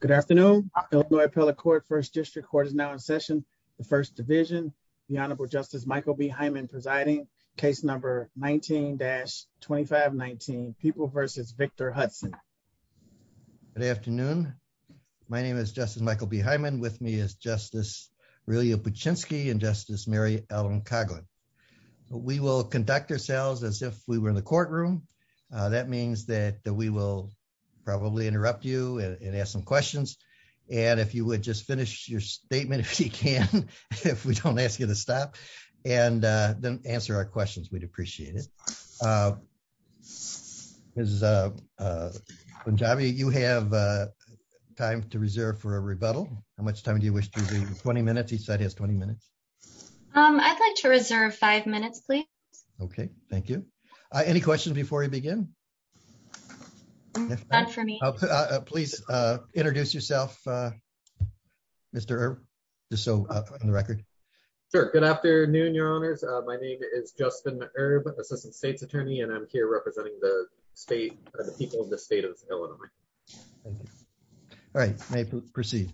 Good afternoon. Illinois appellate court first district court is now in session. The first division, the Honorable Justice Michael B. Hyman presiding, case number 19-2519, People v. Victor Hudson. Good afternoon. My name is Justice Michael B. Hyman. With me is Justice Relia Paczynski and Justice Mary Ellen Coghlan. We will conduct ourselves as if we were in the questions. And if you would just finish your statement if you can, if we don't ask you to stop, and then answer our questions, we'd appreciate it. Ms. Punjabi, you have time to reserve for a rebuttal. How much time do you wish to reserve? 20 minutes, each side has 20 minutes. I'd like to reserve five minutes, please. Okay, thank you. Any questions before we begin? Not for me. Please introduce yourself, Mr. Herb, just so on the record. Sure. Good afternoon, Your Honors. My name is Justin Herb, Assistant State's Attorney, and I'm here representing the state, the people of the state of Illinois. Thank you. All right, may I proceed?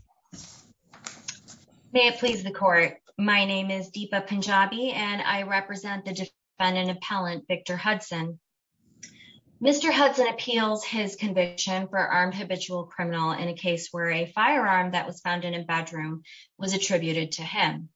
May it please the court. My name is Deepa Punjabi, and I represent the defendant appellant, Victor Hudson. Mr. Hudson appeals his conviction for armed habitual criminal in a case where a firearm that was found in a bedroom was attributed to him.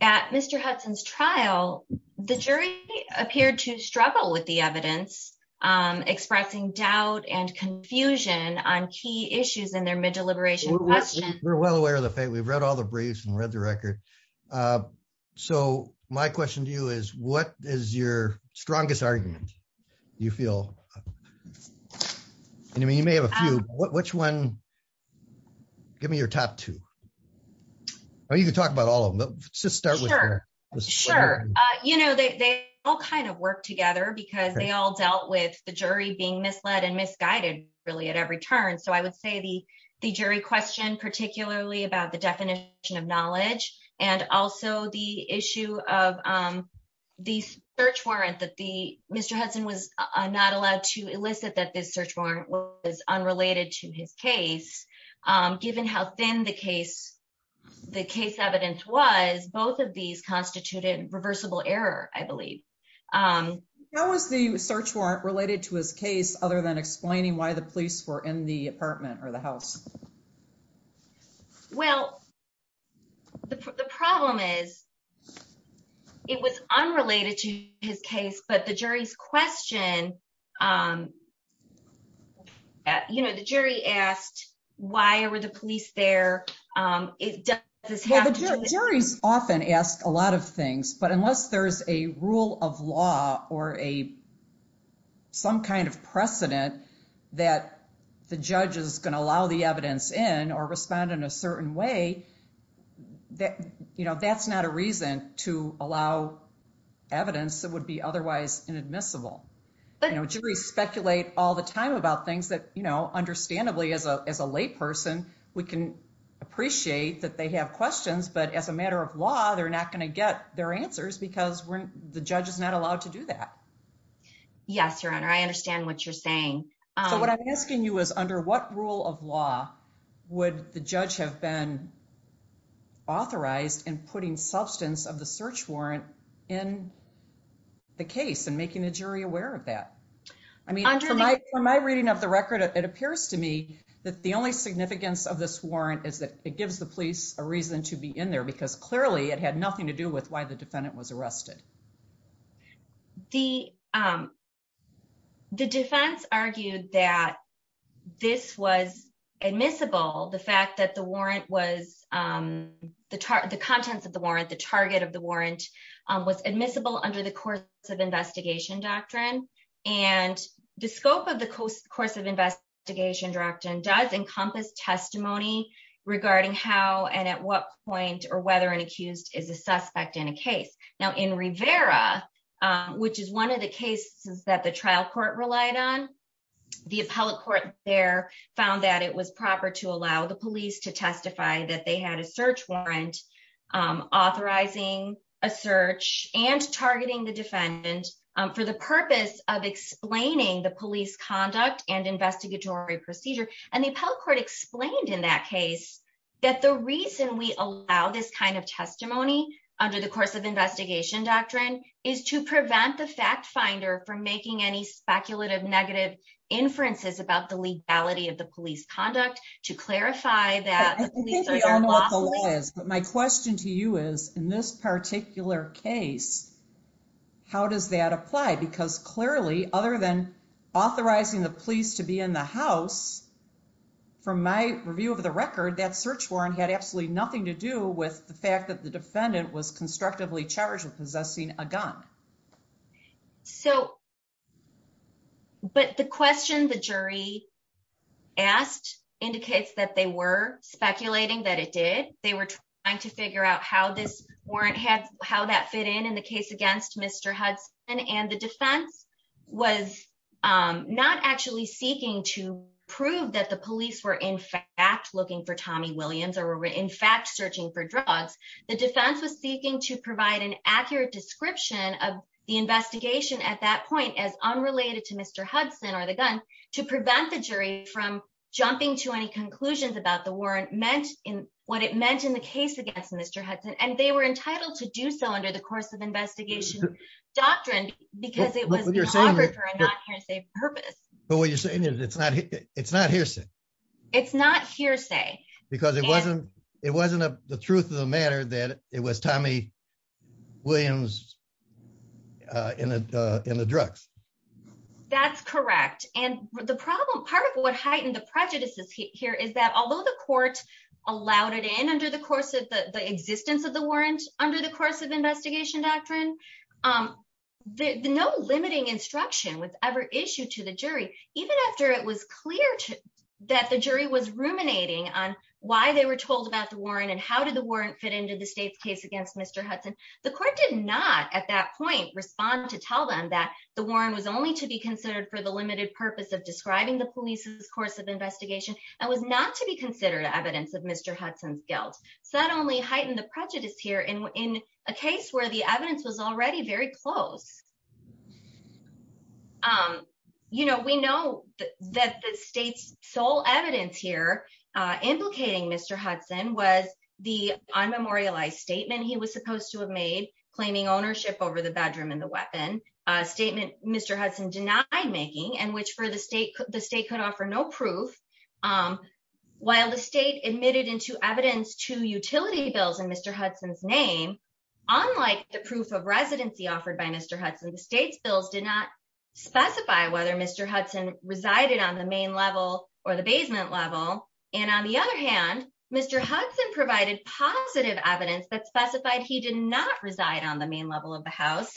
At Mr. Hudson's trial, the jury appeared to struggle with the evidence, expressing doubt and confusion on key issues in their mid-deliberation question. We're well aware of the fact, we've read all the briefs and read the record. So my question to you is, what is your strongest argument? You feel, and I mean, you may have a few, which one? Give me your top two. Or you can talk about all of them, just start with her. Sure. You know, they all kind of work together, because they all dealt with the jury being misled and misguided, really at every turn. So I would say the jury question, particularly about the definition of knowledge, and also the issue of the search warrant that the Mr. Hudson was not allowed to elicit that this search warrant was unrelated to his case. Given how thin the case, the case evidence was, both of these constituted reversible error, I believe. How was the search warrant related to his case other than explaining why the police were in the apartment or the house? Well, the problem is, it was unrelated to his case, but the jury's question, you know, the jury asked, why were the police there? Well, the juries often ask a lot of things, but unless there's a rule of law or some kind of precedent that the judge is going to allow the evidence in or respond in a certain way, you know, that's not a reason to allow evidence that would be otherwise inadmissible. You know, juries speculate all the time about things that, you know, understandably as a lay person, we can appreciate that they have questions, but as a matter of law, they're not going to get their answers because the judge is not allowed to do that. Yes, your honor, I understand what you're saying. So what I'm asking you is under what rule of law would the judge have been authorized in putting substance of the search warrant in the case and making the jury aware of that? I mean, from my reading of the record, it appears to me that the only significance of this warrant is that it gives the police a reason to be in there because clearly it had nothing to do with why the defendant was arrested. The defense argued that this was admissible, the fact that the warrant was, the contents of the warrant, the target of the warrant was admissible under the course of investigation doctrine and the scope of the course of investigation doctrine does encompass testimony regarding how and at what point or whether an is a suspect in a case. Now in Rivera, which is one of the cases that the trial court relied on, the appellate court there found that it was proper to allow the police to testify that they had a search warrant authorizing a search and targeting the defendant for the purpose of explaining the police conduct and investigatory procedure. And the appellate court explained in that case that the reason we allow this kind of testimony under the course of investigation doctrine is to prevent the fact finder from making any speculative negative inferences about the legality of the police conduct to clarify that. I think we all know what the law is, but my question to you is in this particular case, how does that apply? Because clearly, other than authorizing the police to be in the house, from my review of the record, that search warrant had absolutely nothing to do with the fact that the defendant was constructively charged with possessing a gun. So, but the question the jury asked indicates that they were speculating that it did. They were trying to figure out how this warrant had, how that fit in, in the case against Mr. Hudson and the defense was not actually seeking to prove that the police were in fact looking for Tommy Williams or were in fact searching for drugs. The defense was seeking to provide an accurate description of the investigation at that point as unrelated to Mr. Hudson or the gun to prevent the jury from jumping to any conclusions about the warrant meant in what it meant in the case against Mr. Hudson. And they were entitled to do so under the course of investigation doctrine, because it was the purpose. But what you're saying is it's not, it's not hearsay. It's not hearsay. Because it wasn't, it wasn't the truth of the matter that it was Tommy Williams in the drugs. That's correct. And the problem part of what heightened the prejudices here is that although the court allowed it in under the course of the existence of the warrant under the course of investigation doctrine, no limiting instruction was ever issued to the jury even after it was clear that the jury was ruminating on why they were told about the warrant and how did the warrant fit into the state's case against Mr. Hudson. The court did not at that point respond to tell them that the warrant was only to be considered for the limited purpose of describing the police's investigation and was not to be considered evidence of Mr. Hudson's guilt. So that only heightened the prejudice here in a case where the evidence was already very close. You know, we know that the state's sole evidence here implicating Mr. Hudson was the unmemorialized statement he was supposed to have made claiming ownership over the bedroom and the While the state admitted into evidence to utility bills in Mr. Hudson's name, unlike the proof of residency offered by Mr. Hudson, the state's bills did not specify whether Mr. Hudson resided on the main level or the basement level. And on the other hand, Mr. Hudson provided positive evidence that specified he did not reside on the main level of the house.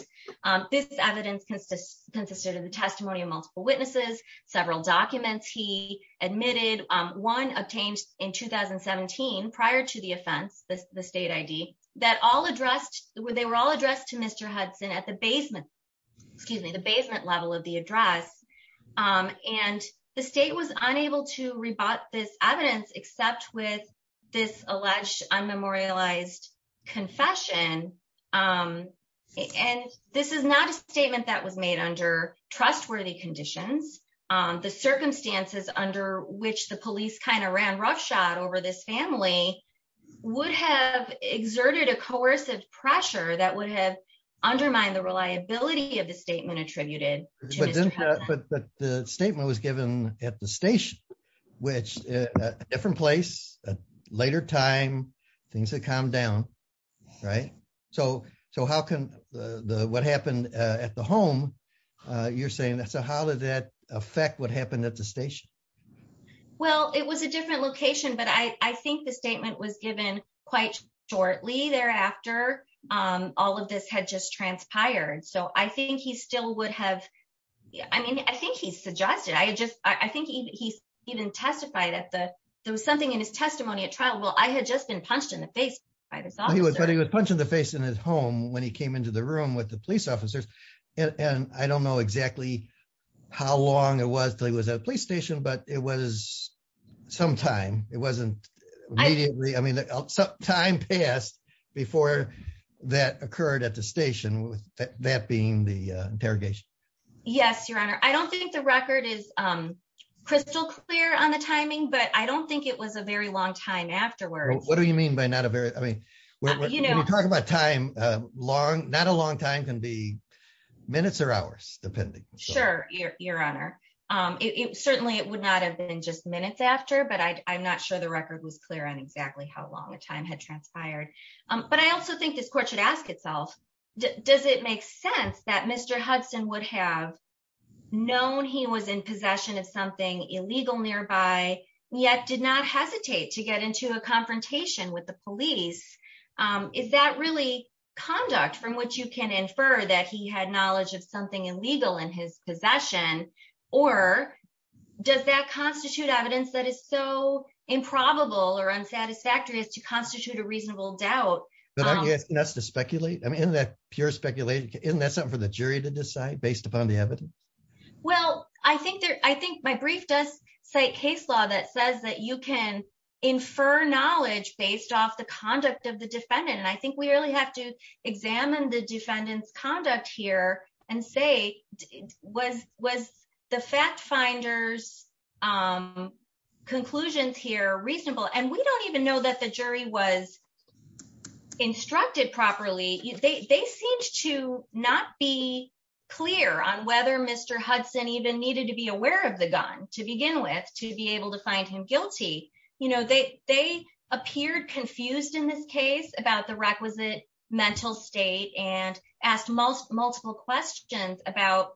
This evidence consists consisted of the testimony of multiple witnesses, several documents he admitted one obtained in 2017 prior to the offense, the state ID that all addressed they were all addressed to Mr. Hudson at the basement, excuse me, the basement level of the address. And the state was unable to rebut this evidence except with this alleged unmemorialized confession. And this is not a statement that was made under trustworthy conditions. The circumstances under which the police kind of ran roughshod over this family would have exerted a coercive pressure that would have undermined the reliability of the statement attributed. But the statement was given at the station, which different place, later time, things had calmed down, right? So how can the what happened at the home, you're saying that's a how did that affect what happened at the station? Well, it was a different location. But I think the statement was given quite shortly thereafter, all of this had just transpired. So I think he still would have. I mean, I think he suggested I just I think he even testified at the there was something in his testimony at trial. Well, I had just been punched in the face by this. He was but he was punched in the face in his home when he came into the room with the police officers. And I don't know exactly how long it was till he was at a police station. But it was some time it wasn't. I mean, time passed before that occurred at the station with that being the interrogation. Yes, Your Honor, I don't think the record is crystal clear on the timing. But I don't think it was a very long time afterwards. What do you mean by not a very I mean, you know, talk about time, long, not a long time can be minutes or hours, depending. Sure, Your Honor. It certainly it would not have been just minutes after but I'm not sure the record was clear on exactly how long the time had transpired. But I also think this court should ask itself, does it make sense that Mr. Hudson would have known he was in possession of something illegal nearby, yet did not hesitate to get into a confrontation with the police? Is that really conduct from which you can infer that he had knowledge of something illegal in his possession? Or does that constitute evidence that is so improbable or unsatisfactory as to constitute a reasonable doubt? But I guess that's to speculate. I mean, that pure speculation, isn't that something for the jury to decide based upon the evidence? Well, I think that I think my brief does cite case law that says that you can infer knowledge based off the conduct of the defendant. And I think we really have to examine the defendant's conduct here and say, was was the fact finders conclusions here reasonable, and we don't even know that the jury was instructed properly. They seemed to not be clear on whether Mr. Hudson even needed to be aware of the gun to begin with to be able to find him guilty. You know, they appeared confused in this case about the requisite mental state and asked multiple questions about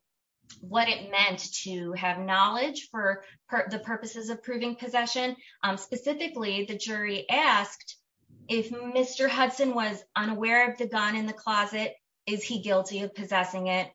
what it meant to have knowledge for the purposes of proving possession. Specifically, the jury asked if Mr. Hudson was unaware of the gun in the closet, is he guilty of possessing it?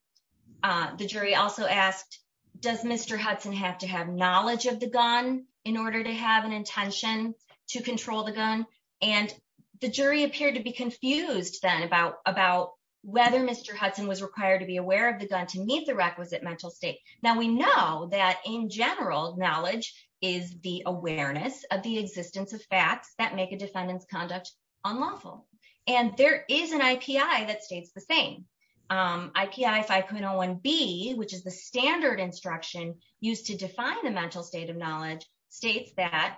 The jury also asked, does Mr. Hudson have to have knowledge of the gun in order to have an intention to control the gun? And the jury appeared to be confused then about whether Mr. Hudson was required to be aware of the gun to meet the requisite mental state. Now, we know that in general, knowledge is the awareness of the existence of facts that make a defendant's conduct unlawful. And there is an IPI that states the same. IPI 5.01B, which is the standard instruction used to define the mental state of knowledge, states that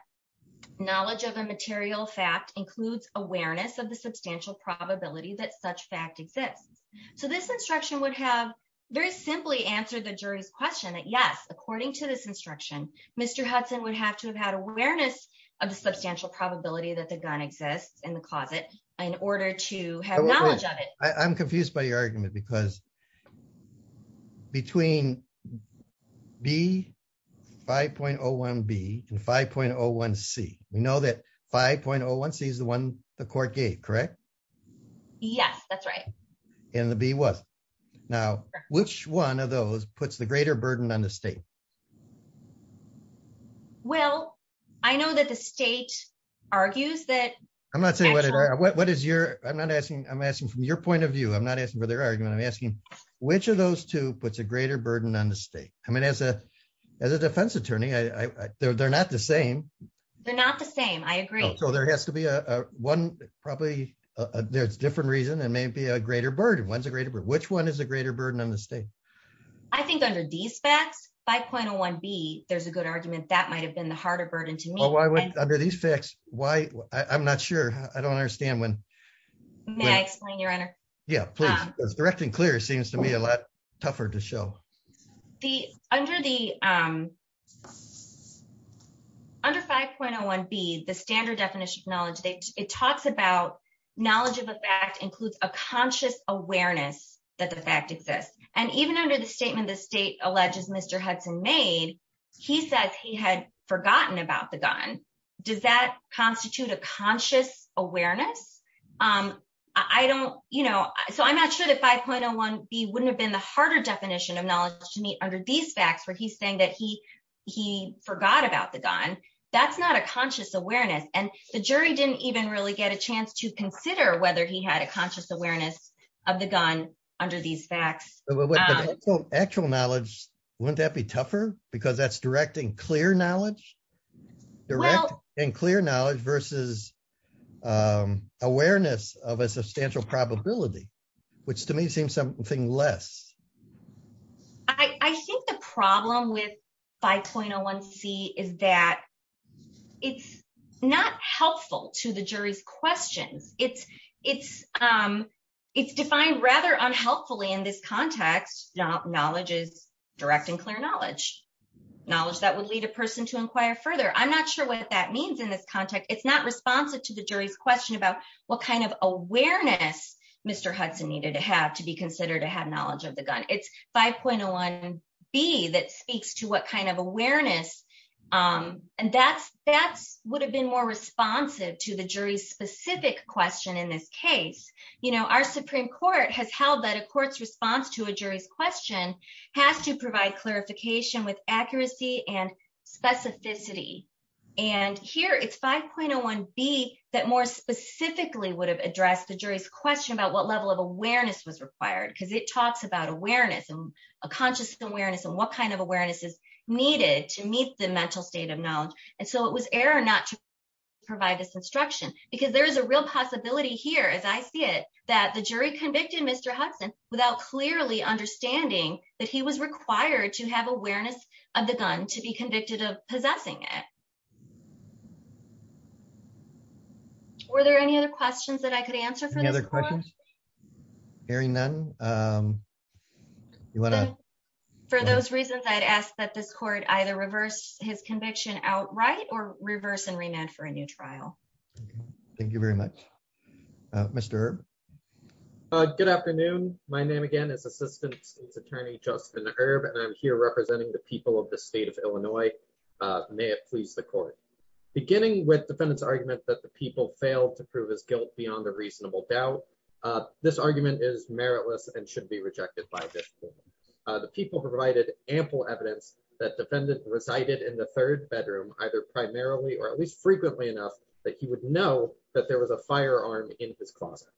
knowledge of a material fact includes awareness of the substantial probability that such fact exists. So this instruction would have very simply answered the jury's question that yes, according to this instruction, Mr. Hudson would have to have had awareness of the substantial probability that the gun exists in the closet in order to have knowledge of it. I'm confused by your argument because between B, 5.01B and 5.01C, we know that 5.01C is the one the court gave, correct? Yes, that's right. And the B was. Now, which one of those puts the greater burden on the state? Well, I know that the state argues that- I'm not saying what is your, I'm not asking, I'm asking from your point of view. I'm not asking for their argument. I'm asking which of those two puts a greater burden on the state? I mean, as a defense attorney, they're not the same. They're not the same. I agree. So there has to be one, probably there's a different reason. It may be a greater burden. When's a greater burden? Which one is a greater burden on the state? I think under these facts, 5.01B, there's a good argument that might've been the harder burden to me. Well, why would, under these facts, why? I'm not sure. I don't understand when. May I explain, Your Honor? Yeah, please. It's direct and clear. It seems to me a lot tougher to show. The, under the, under 5.01B, the standard definition of knowledge, it talks about knowledge of a fact includes a conscious awareness that the fact exists. And even under the statement, the state alleges Mr. Hudson made, he says he had forgotten about the gun. Does that constitute a conscious awareness? I don't, so I'm not sure that 5.01B wouldn't have been the harder definition of knowledge to me under these facts, where he's saying that he, he forgot about the gun. That's not a conscious awareness. And the jury didn't even really get a chance to consider whether he had a conscious awareness of the gun under these facts. Actual knowledge, wouldn't that be tougher? Because that's direct and clear knowledge, direct and clear knowledge versus awareness of a substantial probability, which to me seems something less. I think the problem with 5.01C is that it's not helpful to the jury's questions. It's, it's, it's defined rather unhelpfully in this context. Knowledge is direct and clear knowledge, knowledge that would lead a person to inquire further. I'm not sure what that means in this context. It's not responsive to the jury's question about what kind of awareness Mr. Hudson needed to have to be considered to have knowledge of the gun. It's 5.01B that speaks to what kind of awareness, and that's, that's would have been more responsive to the jury's specific question in this case. You know, our Supreme Court has held that a court's response to a jury's question has to provide clarification with accuracy and specifically would have addressed the jury's question about what level of awareness was required because it talks about awareness and a conscious awareness and what kind of awareness is needed to meet the mental state of knowledge. And so it was error not to provide this instruction because there is a real possibility here, as I see it, that the jury convicted Mr. Hudson without clearly understanding that he was required to have awareness of the gun to be Were there any other questions that I could answer for the other questions? Hearing none, you want to, for those reasons, I'd ask that this court either reverse his conviction outright or reverse and remand for a new trial. Thank you very much. Mr. Good afternoon. My name again is Assistant State's Attorney, Justin Herb, and I'm here representing the people of the state of Illinois. May it please the court. Beginning with defendant's people failed to prove his guilt beyond a reasonable doubt. This argument is meritless and should be rejected by the people provided ample evidence that defendant resided in the third bedroom, either primarily or at least frequently enough that he would know that there was a firearm in his closet.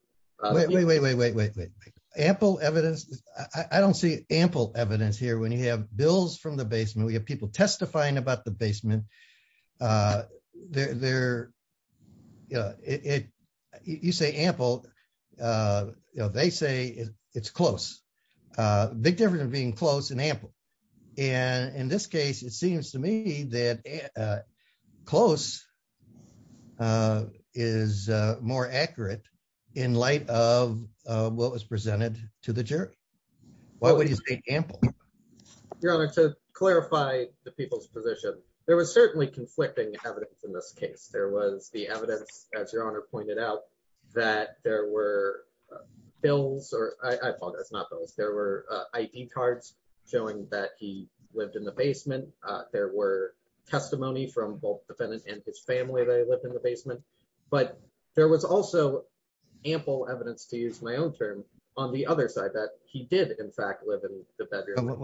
Wait, wait, wait, wait, wait, wait, wait. Ample evidence. I don't see ample evidence here. When you have bills from the basement, we have people testifying about the basement. Uh, they're, they're, you know, it, you say ample, uh, you know, they say it's close, uh, big difference of being close and ample. And in this case, it seems to me that, uh, close, uh, is, uh, more accurate in light of, uh, what was presented to the jury. Why would you say ample? Your Honor, to clarify the people's position, there was certainly conflicting evidence in this case. There was the evidence, as Your Honor pointed out, that there were bills, or I, I apologize, not bills. There were, uh, ID cards showing that he lived in the basement. Uh, there were testimony from both defendant and his family that he lived in the in fact, live in the bedroom.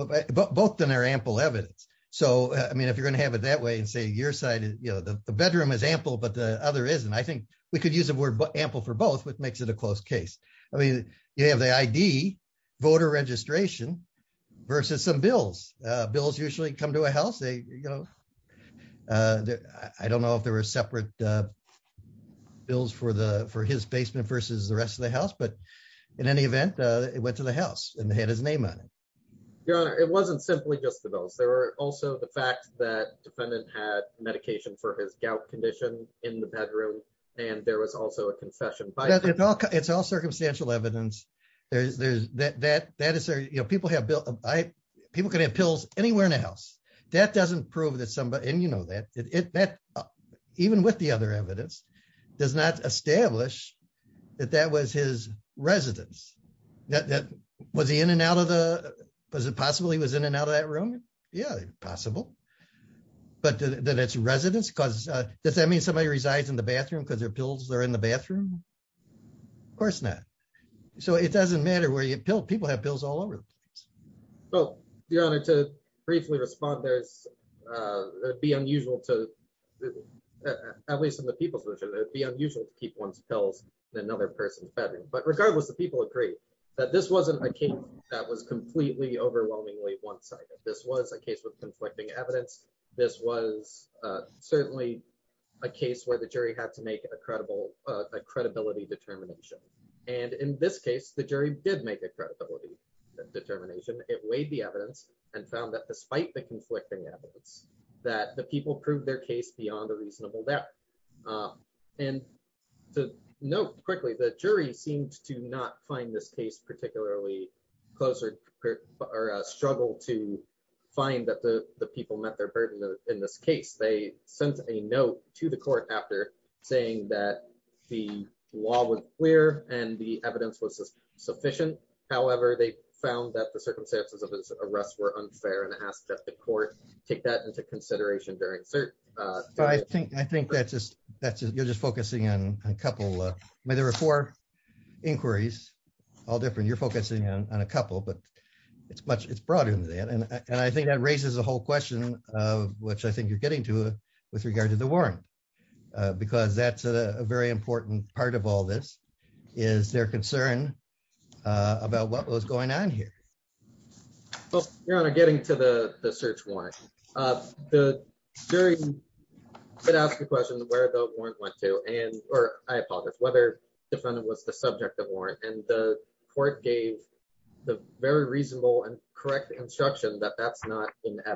Both of them are ample evidence. So, I mean, if you're going to have it that way and say your side, you know, the bedroom is ample, but the other isn't, I think we could use the word ample for both, which makes it a close case. I mean, you have the ID, voter registration versus some bills. Uh, bills usually come to a house. They, you know, uh, I don't know if there were separate, uh, bills for the, for his basement versus the rest of the house, but in any event, uh, it went to the house and they had his name on it. Your Honor, it wasn't simply just the bills. There were also the fact that defendant had medication for his gout condition in the bedroom, and there was also a confession. But it's all, it's all circumstantial evidence. There's, there's that, that, that is there, you know, people have built, I, people can have pills anywhere in the house. That doesn't prove that somebody, and you know that, it, that even with other evidence, does not establish that that was his residence. That, that, was he in and out of the, was it possible he was in and out of that room? Yeah, possible. But that it's residence because, uh, does that mean somebody resides in the bathroom because their pills are in the bathroom? Of course not. So it doesn't matter where you pill, people have pills all over the place. Well, Your Honor, to briefly respond, there's, uh, it'd be unusual to, at least in the people's version, it'd be unusual to keep one's pills in another person's bedroom. But regardless, the people agree that this wasn't a case that was completely, overwhelmingly one-sided. This was a case with conflicting evidence. This was, uh, certainly a case where the jury had to make a credible, uh, a credibility determination. And in this case, the jury did make a credibility determination. It weighed the evidence and found that despite the conflicting evidence, that the people proved their case beyond a reasonable doubt. Um, and to note quickly, the jury seemed to not find this case particularly close or, or, uh, struggled to find that the, the people met their burden in this case. They sent a note to the court after saying that the law was clear and the evidence was sufficient. However, they found that the circumstances of this arrest were unfair and asked that the court take that into consideration during cert, uh. But I think, I think that's just, that's, you're just focusing on a couple of, I mean, there were four inquiries, all different. You're focusing on a couple, but it's much, it's broader than that. And I think that raises the whole question of which I think you're getting to with regard to the warrant, uh, because that's a very important part of all this is their concern, uh, about what was going on here. Well, Your Honor, getting to the search warrant, uh, the jury did ask the question of where the warrant went to and, or I apologize, whether the defendant was the subject of warrant and the court gave the very reasonable and correct instruction that that's not in the.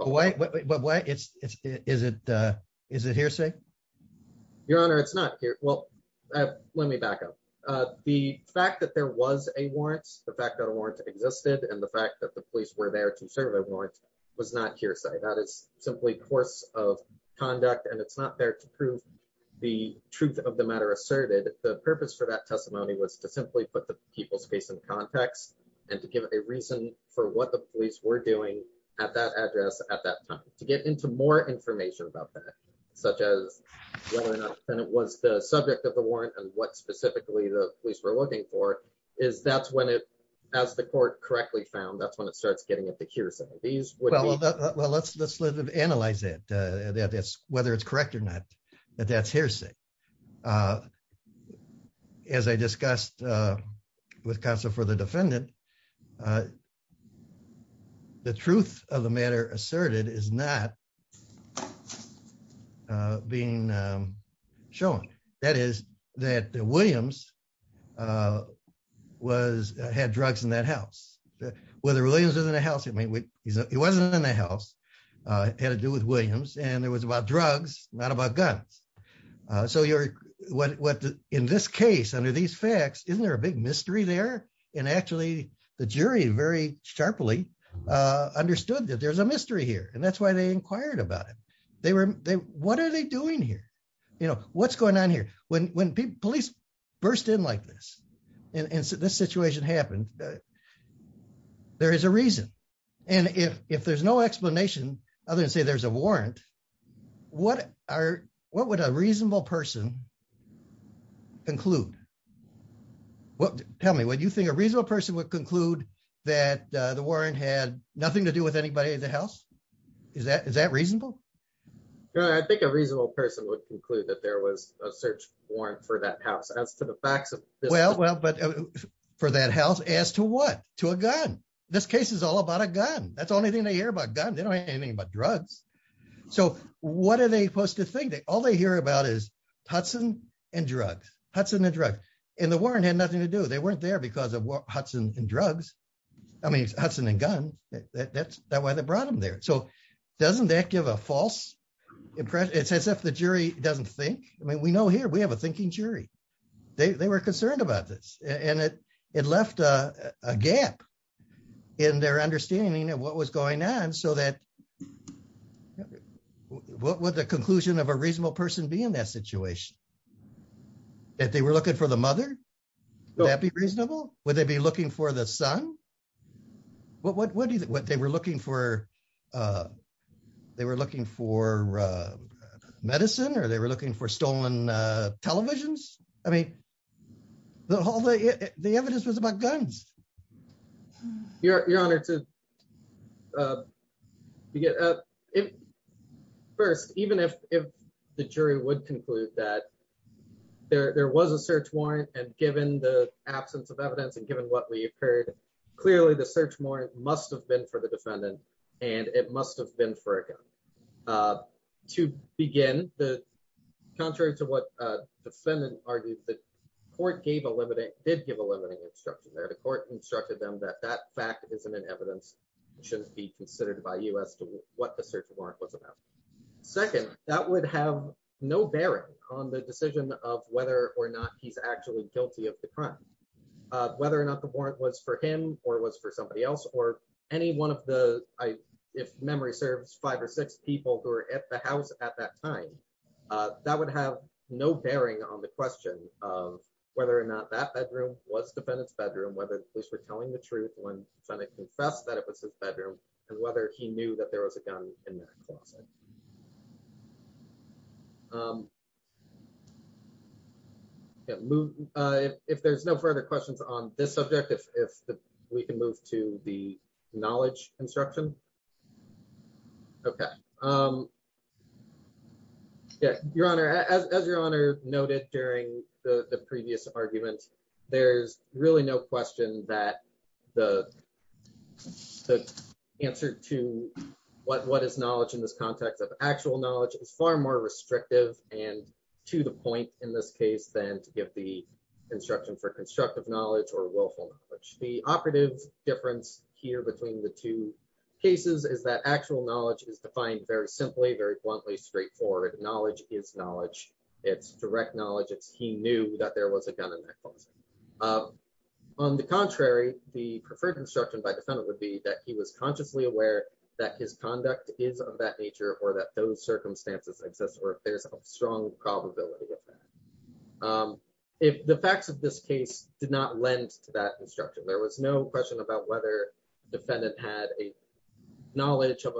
Wait, wait, wait, wait, wait. It's, it's, is it, uh, is it hearsay? Your Honor, it's not here. Well, let me back up. Uh, the fact that there was a warrant, the fact that a warrant existed and the fact that the police were there to serve a warrant was not hearsay. That is simply course of conduct and it's not there to prove the truth of the matter asserted. The purpose for that we're doing at that address at that time to get into more information about that, such as well enough. And it was the subject of the warrant and what specifically the police were looking for is that's when it, as the court correctly found, that's when it starts getting at the hearsay. These would be, well, let's, let's live, analyze it, uh, that that's whether it's correct or not, that that's hearsay. Uh, as I discussed, uh, with counsel for the defendant, uh, the truth of the matter asserted is not, uh, being, um, shown that is that the Williams, uh, was, uh, had drugs in that house, whether Williams was in the house. I mean, he's, he wasn't in the house, uh, had to do with Williams and it was about drugs, not about guns. Uh, so you're what, what in this case under these facts, isn't there a big mystery there and actually the jury very sharply, uh, understood that there's a mystery here. And that's why they inquired about it. They were, they, what are they doing here? You know, what's going on here when, when people, police burst in like this and this situation happened, there is a reason. And if, if there's no explanation other than say, there's a warrant, what are, what would a reasonable person conclude? Well, tell me what you think a reasonable person would conclude that, uh, the warrant had nothing to do with anybody in the house. Is that, is that reasonable? I think a reasonable person would conclude that there was a search warrant for that house as to the facts. Well, well, but for that house as to what, to a gun, this case is all about a gun. That's the only thing they hear about gun. They don't what are they supposed to think that all they hear about is Hudson and drugs, Hudson and drugs and the warrant had nothing to do. They weren't there because of Hudson and drugs. I mean, Hudson and guns. That's that why they brought them there. So doesn't that give a false impression? It's as if the jury doesn't think, I mean, we know here we have a thinking jury. They were concerned about this and it, it left a gap in their understanding of what was going on. So that what would the conclusion of a reasonable person be in that situation that they were looking for the mother? Would that be reasonable? Would they be looking for the son? What, what, what do you, what they were looking for? Uh, they were looking for, uh, medicine or they were looking for stolen, uh, televisions. I mean, the whole, the evidence was about guns. You're you're honored to, uh, to get, uh, if first, even if, if the jury would conclude that there, there was a search warrant and given the absence of evidence and given what we've heard, clearly the search warrant must've been for the defendant and it must've been for a gun, uh, to begin the contrary to what a defendant argued that court gave a limiting, did give a limiting instruction there. The court instructed them that that fact isn't an evidence. It shouldn't be considered by us to what the search warrant was about. Second, that would have no bearing on the decision of whether or not he's actually guilty of the crime, uh, whether or not the warrant was for him or it was for somebody else or any one of the, I, if memory serves five or six people who are at the house at that time, uh, that would have no bearing on the question of whether or not that bedroom was defendant's bedroom, whether the police were telling the truth when trying to confess that it was his bedroom and whether he knew that there was a gun in that closet. Um, yeah, move, uh, if there's no further questions on this subject, if, if we can move to the knowledge instruction. Okay. Um, yeah, your honor, as, as your honor noted during the previous argument, there's really no question that the answer to what, what is knowledge in this context of actual knowledge is far more restrictive and to the point in this case than to give the instruction for constructive knowledge or willful knowledge. The operative difference here between the two cases is that actual knowledge is defined very simply, very he knew that there was a gun in that closet. Um, on the contrary, the preferred instruction by defendant would be that he was consciously aware that his conduct is of that nature or that those circumstances exist, or if there's a strong probability of that, um, if the facts of this case did not lend to that instruction, there was no question about whether defendant had a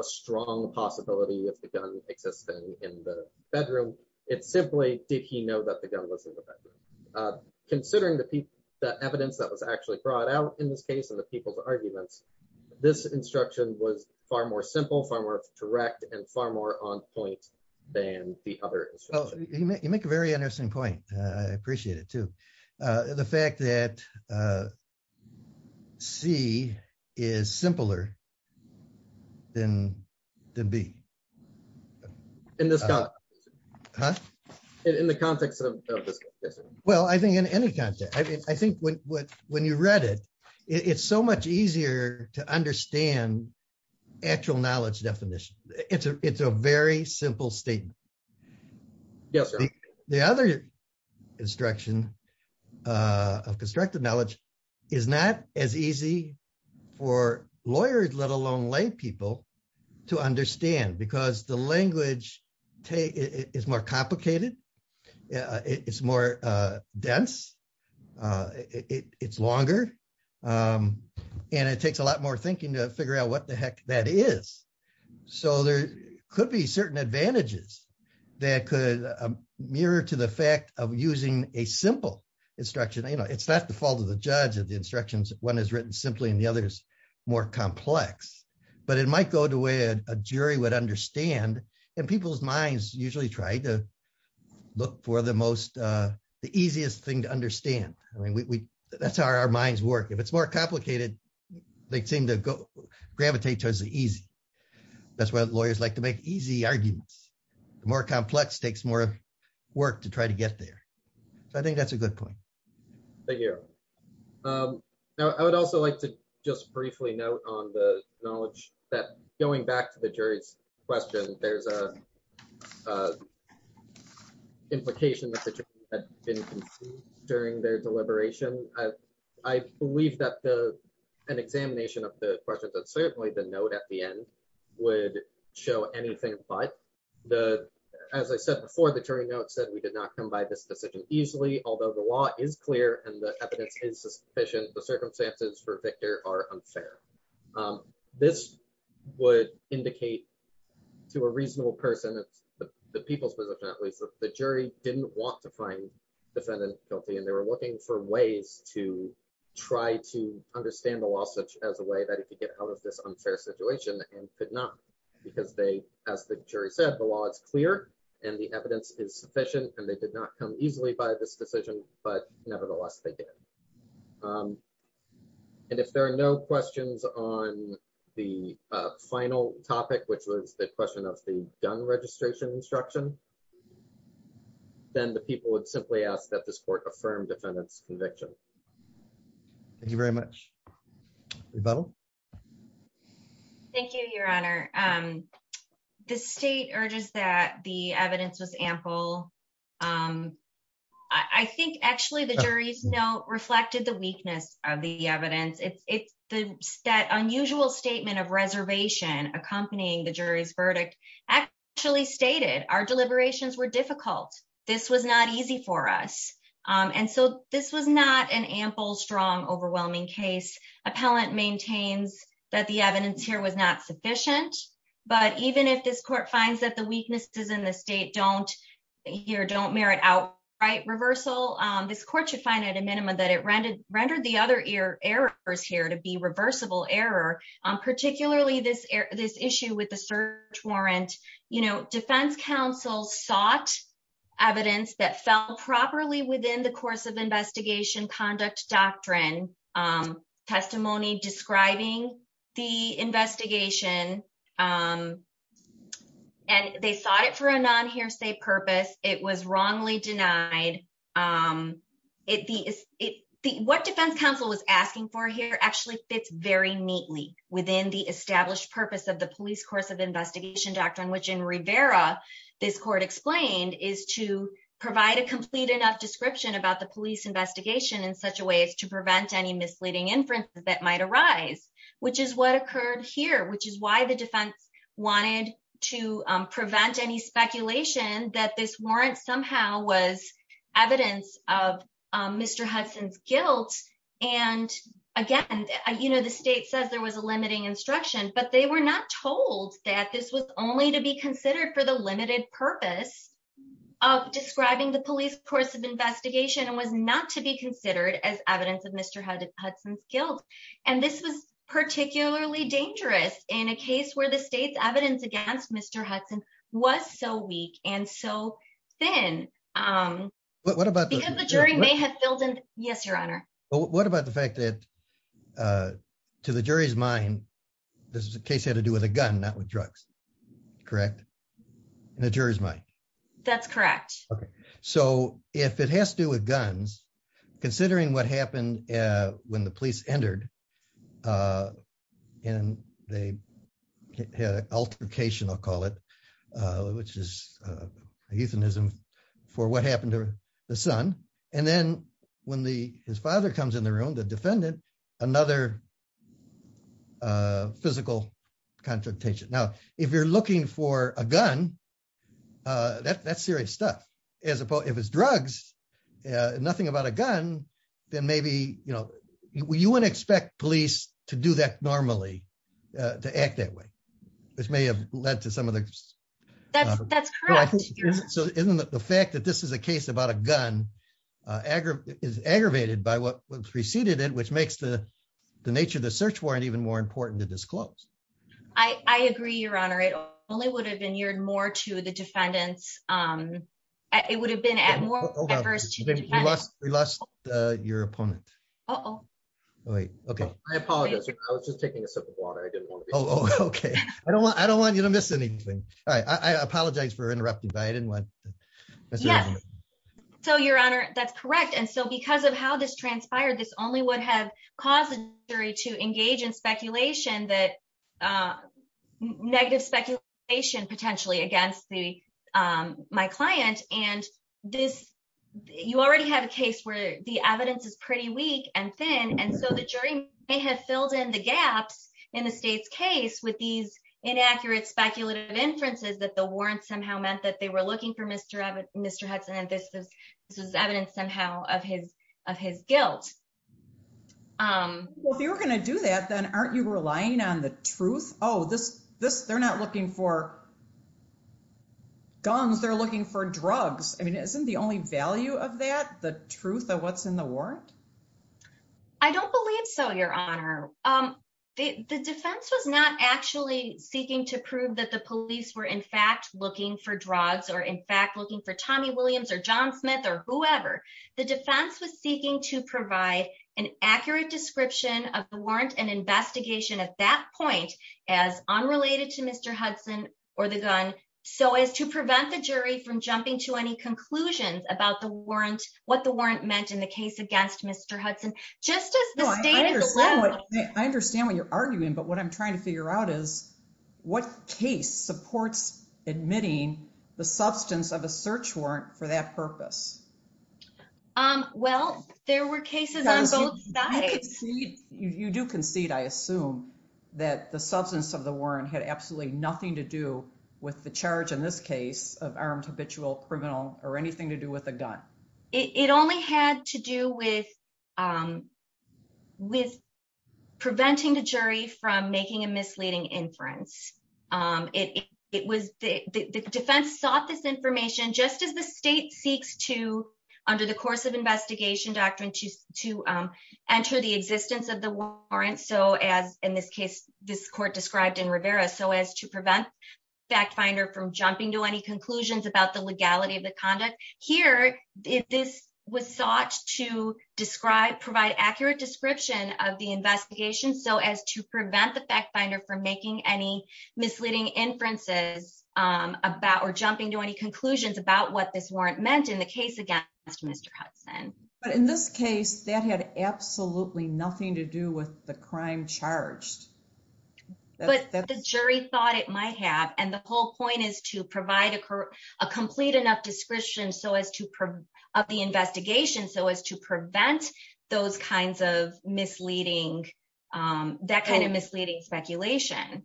strong possibility of the gun existing in the bedroom. It's simply, did he know that the gun was in the bedroom? Uh, considering the people, the evidence that was actually brought out in this case and the people's arguments, this instruction was far more simple, far more direct and far more on point than the other. You make a very interesting point. Uh, I appreciate it too. Uh, the fact that, uh, C is simpler than to be in the context of this. Well, I think in any context, I think when, when you read it, it's so much easier to understand actual knowledge definition. It's a, it's a very simple statement. The other instruction, uh, of constructed knowledge is not as easy for lawyers, let alone lay people to understand because the language is more complicated. Uh, it's more, uh, dense. Uh, it, it, it's longer. Um, and it takes a lot more thinking to figure out what the heck that is. So there could be certain advantages that could mirror to the fact of using a simple instruction. You know, it's not the fault of the judge of the instructions. One is written simply and the other is more complex, but it might go to where a jury would understand. And people's minds usually try to look for the most, uh, the easiest thing to understand. I mean, we, we, that's how our minds work. If it's more gravitate towards the easy, that's why lawyers like to make easy arguments, the more complex takes more work to try to get there. So I think that's a good point. Thank you. Um, now I would also like to just briefly note on the knowledge that going back to the jury's question, there's a, uh, implication that the jury had been confused during their deliberation. I believe that the, an examination of the questions that certainly the note at the end would show anything, but the, as I said before, the jury note said we did not come by this decision easily. Although the law is clear and the evidence is sufficient, the circumstances for Victor are unfair. Um, this would indicate to a reasonable person that the people's position, at least the didn't want to find defendant guilty. And they were looking for ways to try to understand the law such as a way that it could get out of this unfair situation and could not because they, as the jury said, the law is clear and the evidence is sufficient and they did not come easily by this decision, but nevertheless they did. Um, and if there are no questions on the, uh, final topic, which was the question of the gun registration instruction, then the people would simply ask that this court affirmed defendants conviction. Thank you very much. Thank you, your honor. Um, the state urges that the evidence was ample. Um, I think actually the jury's note reflected the weakness of the evidence. It's, it's the stat unusual statement of reservation accompanying the jury's verdict actually stated our deliberations were difficult. This was not easy for us. Um, and so this was not an ample, strong, overwhelming case. Appellant maintains that the evidence here was not sufficient, but even if this court finds that the weaknesses in the state don't here, don't merit outright reversal. Um, this court should find at a minimum that it rendered, rendered the other ear errors here to be reversible error. Um, particularly this, this issue with the search warrant, you know, defense counsel sought evidence that fell properly within the course of investigation conduct doctrine, um, testimony describing the investigation. Um, and they sought it for a non hearsay purpose. It was wrongly denied. Um, it, the, it, the, what defense counsel was asking for here actually fits very neatly within the established purpose of the police course of which in Rivera, this court explained is to provide a complete enough description about the police investigation in such a way as to prevent any misleading inferences that might arise, which is what occurred here, which is why the defense wanted to, um, prevent any speculation that this warrant somehow was evidence of, um, Mr. Hudson's guilt. And again, you know, the state says there was a limiting instruction, but they were not told that this was only to be considered for the limited purpose of describing the police course of investigation and was not to be considered as evidence of Mr. Hudson's guilt. And this was particularly dangerous in a case where the state's evidence against Mr. Hudson was so weak. And so then, um, what about the jury may have filled in? What about the fact that, uh, to the jury's mind, this is a case had to do with a gun, not with drugs, correct? And the jury's mind. That's correct. Okay. So if it has to do with guns, considering what happened, uh, when the police entered, uh, and they had altercation, I'll call it, uh, which is, uh, a euthanism for what happened to the son. And then when the, his father comes in the room, the defendant, another, uh, physical confrontation. Now, if you're looking for a gun, uh, that that's serious stuff as opposed, if it's drugs, uh, nothing about a gun, then maybe, you know, you wouldn't expect police to do that normally, uh, to act that way, which may have led to some of the, so isn't the fact that this is a case about a gun, uh, is aggravated by what was preceded it, which makes the, the nature of the search warrant even more important to disclose. I agree your honor. It only would have been more to the defendants. Um, it would have been at more adverse to your opponent. Oh wait. Okay. I apologize. I Okay. I don't want, I don't want you to miss anything. All right. I apologize for interrupting, but I didn't want. So your honor, that's correct. And so because of how this transpired, this only would have caused the jury to engage in speculation that, uh, negative speculation potentially against the, um, my client and this, you already have a case where the evidence is pretty weak and thin. So the jury may have filled in the gaps in the state's case with these inaccurate speculative inferences that the warrant somehow meant that they were looking for Mr. Hudson. And this is, this is evidence somehow of his, of his guilt. Um, well, if you were going to do that, then aren't you relying on the truth? Oh, this, this, they're not looking for guns. They're looking for drugs. I mean, isn't the only value of that, the truth of what's in the warrant? I don't believe so. Your honor. Um, the defense was not actually seeking to prove that the police were in fact looking for drugs or in fact, looking for Tommy Williams or John Smith or whoever the defense was seeking to provide an accurate description of the warrant and investigation at that point as unrelated to Mr. Hudson or the gun. So as to prevent the jury from jumping to any conclusions about the warrant, what the warrant meant in the case against Mr. Hudson, just as I understand what you're arguing, but what I'm trying to figure out is what case supports admitting the substance of a search warrant for that purpose. Um, well, there were cases. You do concede. I assume that the substance of warrant had absolutely nothing to do with the charge in this case of armed habitual criminal or anything to do with a gun. It only had to do with, um, with preventing the jury from making a misleading inference. Um, it, it was the defense sought this information just as the state seeks to under the course of investigation doctrine to, to, um, enter the existence of the warrant. So as in this case, this court described in Rivera, so as to prevent fact finder from jumping to any conclusions about the legality of the conduct here, if this was sought to describe, provide accurate description of the investigation. So as to prevent the fact finder from making any misleading inferences, um, about, or jumping to any conclusions about what this warrant meant in Mr. Hudson. But in this case that had absolutely nothing to do with the crime charged, but the jury thought it might have. And the whole point is to provide a, a complete enough description. So as to PR of the investigation, so as to prevent those kinds of misleading, um, that kind of misleading speculation.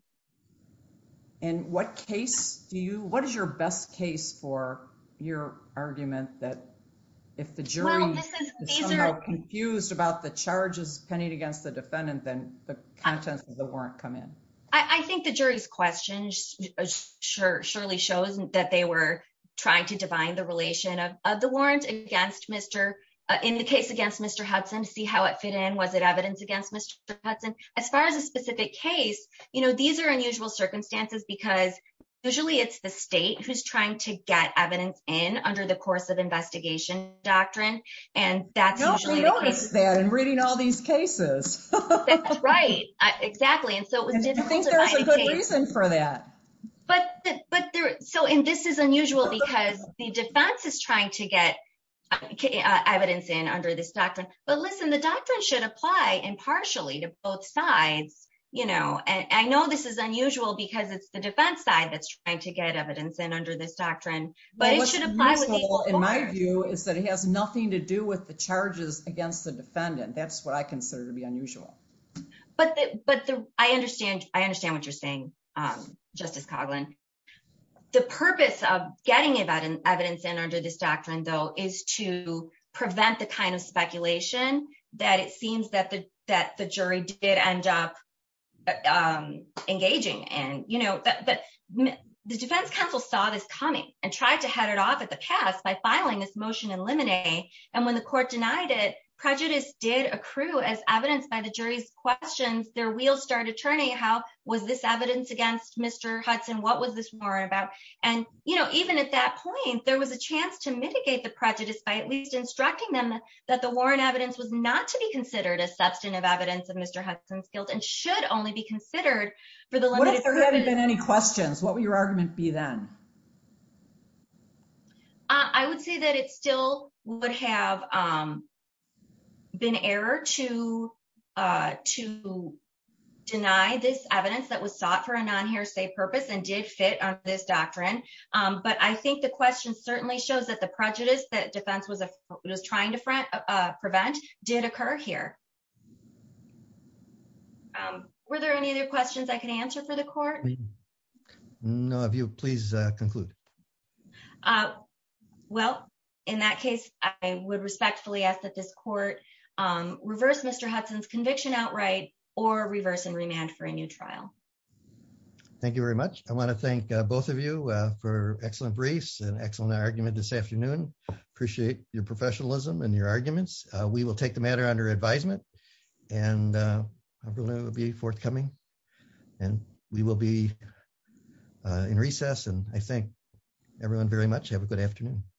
And what case do you, what is your best case for your argument that if the jury is somehow confused about the charges pennied against the defendant, then the contents of the warrant come in. I think the jury's questions surely shows that they were trying to divine the relation of, of the warrant against Mr. in the case against Mr. Hudson, see how it fit in. Was it evidence against Mr. Hudson? As far as a specific case, you know, these are unusual circumstances because usually it's the state who's trying to get evidence in under the course of investigation doctrine. And that's usually noticed that in reading all these cases, right? Exactly. And so there was a good reason for that, but, but there, so, and this is unusual because the defense is trying to get evidence in under this doctrine, but listen, the doctrine should apply impartially to both sides. You know, and I know this is unusual because it's the defense side that's trying to get evidence in under this doctrine, but it should apply. In my view is that he has nothing to do with the charges against the defendant. That's what I consider to be unusual, but, but I understand, I understand what you're saying. Justice Coughlin, the purpose of getting about an evidence in under this doctrine though, is to prevent the kind of speculation that it seems that the, that defense counsel saw this coming and tried to head it off at the past by filing this motion in limine. And when the court denied it, prejudice did accrue as evidenced by the jury's questions, their wheelstart attorney, how was this evidence against Mr. Hudson? What was this warrant about? And, you know, even at that point, there was a chance to mitigate the prejudice by at least instructing them that the warrant evidence was not to be considered a substantive evidence of Mr. Hudson's guilt and should only be considered for the limited. What if there hadn't been any questions, what would your argument be then? I would say that it still would have been error to deny this evidence that was sought for a non-hare say purpose and did fit on this doctrine. But I think the question certainly shows that the prejudice that defense was trying to prevent did occur here. Were there any other questions I could answer for the court? No. If you please conclude. Well, in that case, I would respectfully ask that this court reverse Mr. Hudson's conviction outright or reverse and remand for a new trial. Thank you very much. I want to thank both of you for excellent briefs and excellent argument this afternoon. Appreciate your professionalism and your arguments. We will take the matter under advisement and it will be forthcoming and we will be in recess. And I thank everyone very much.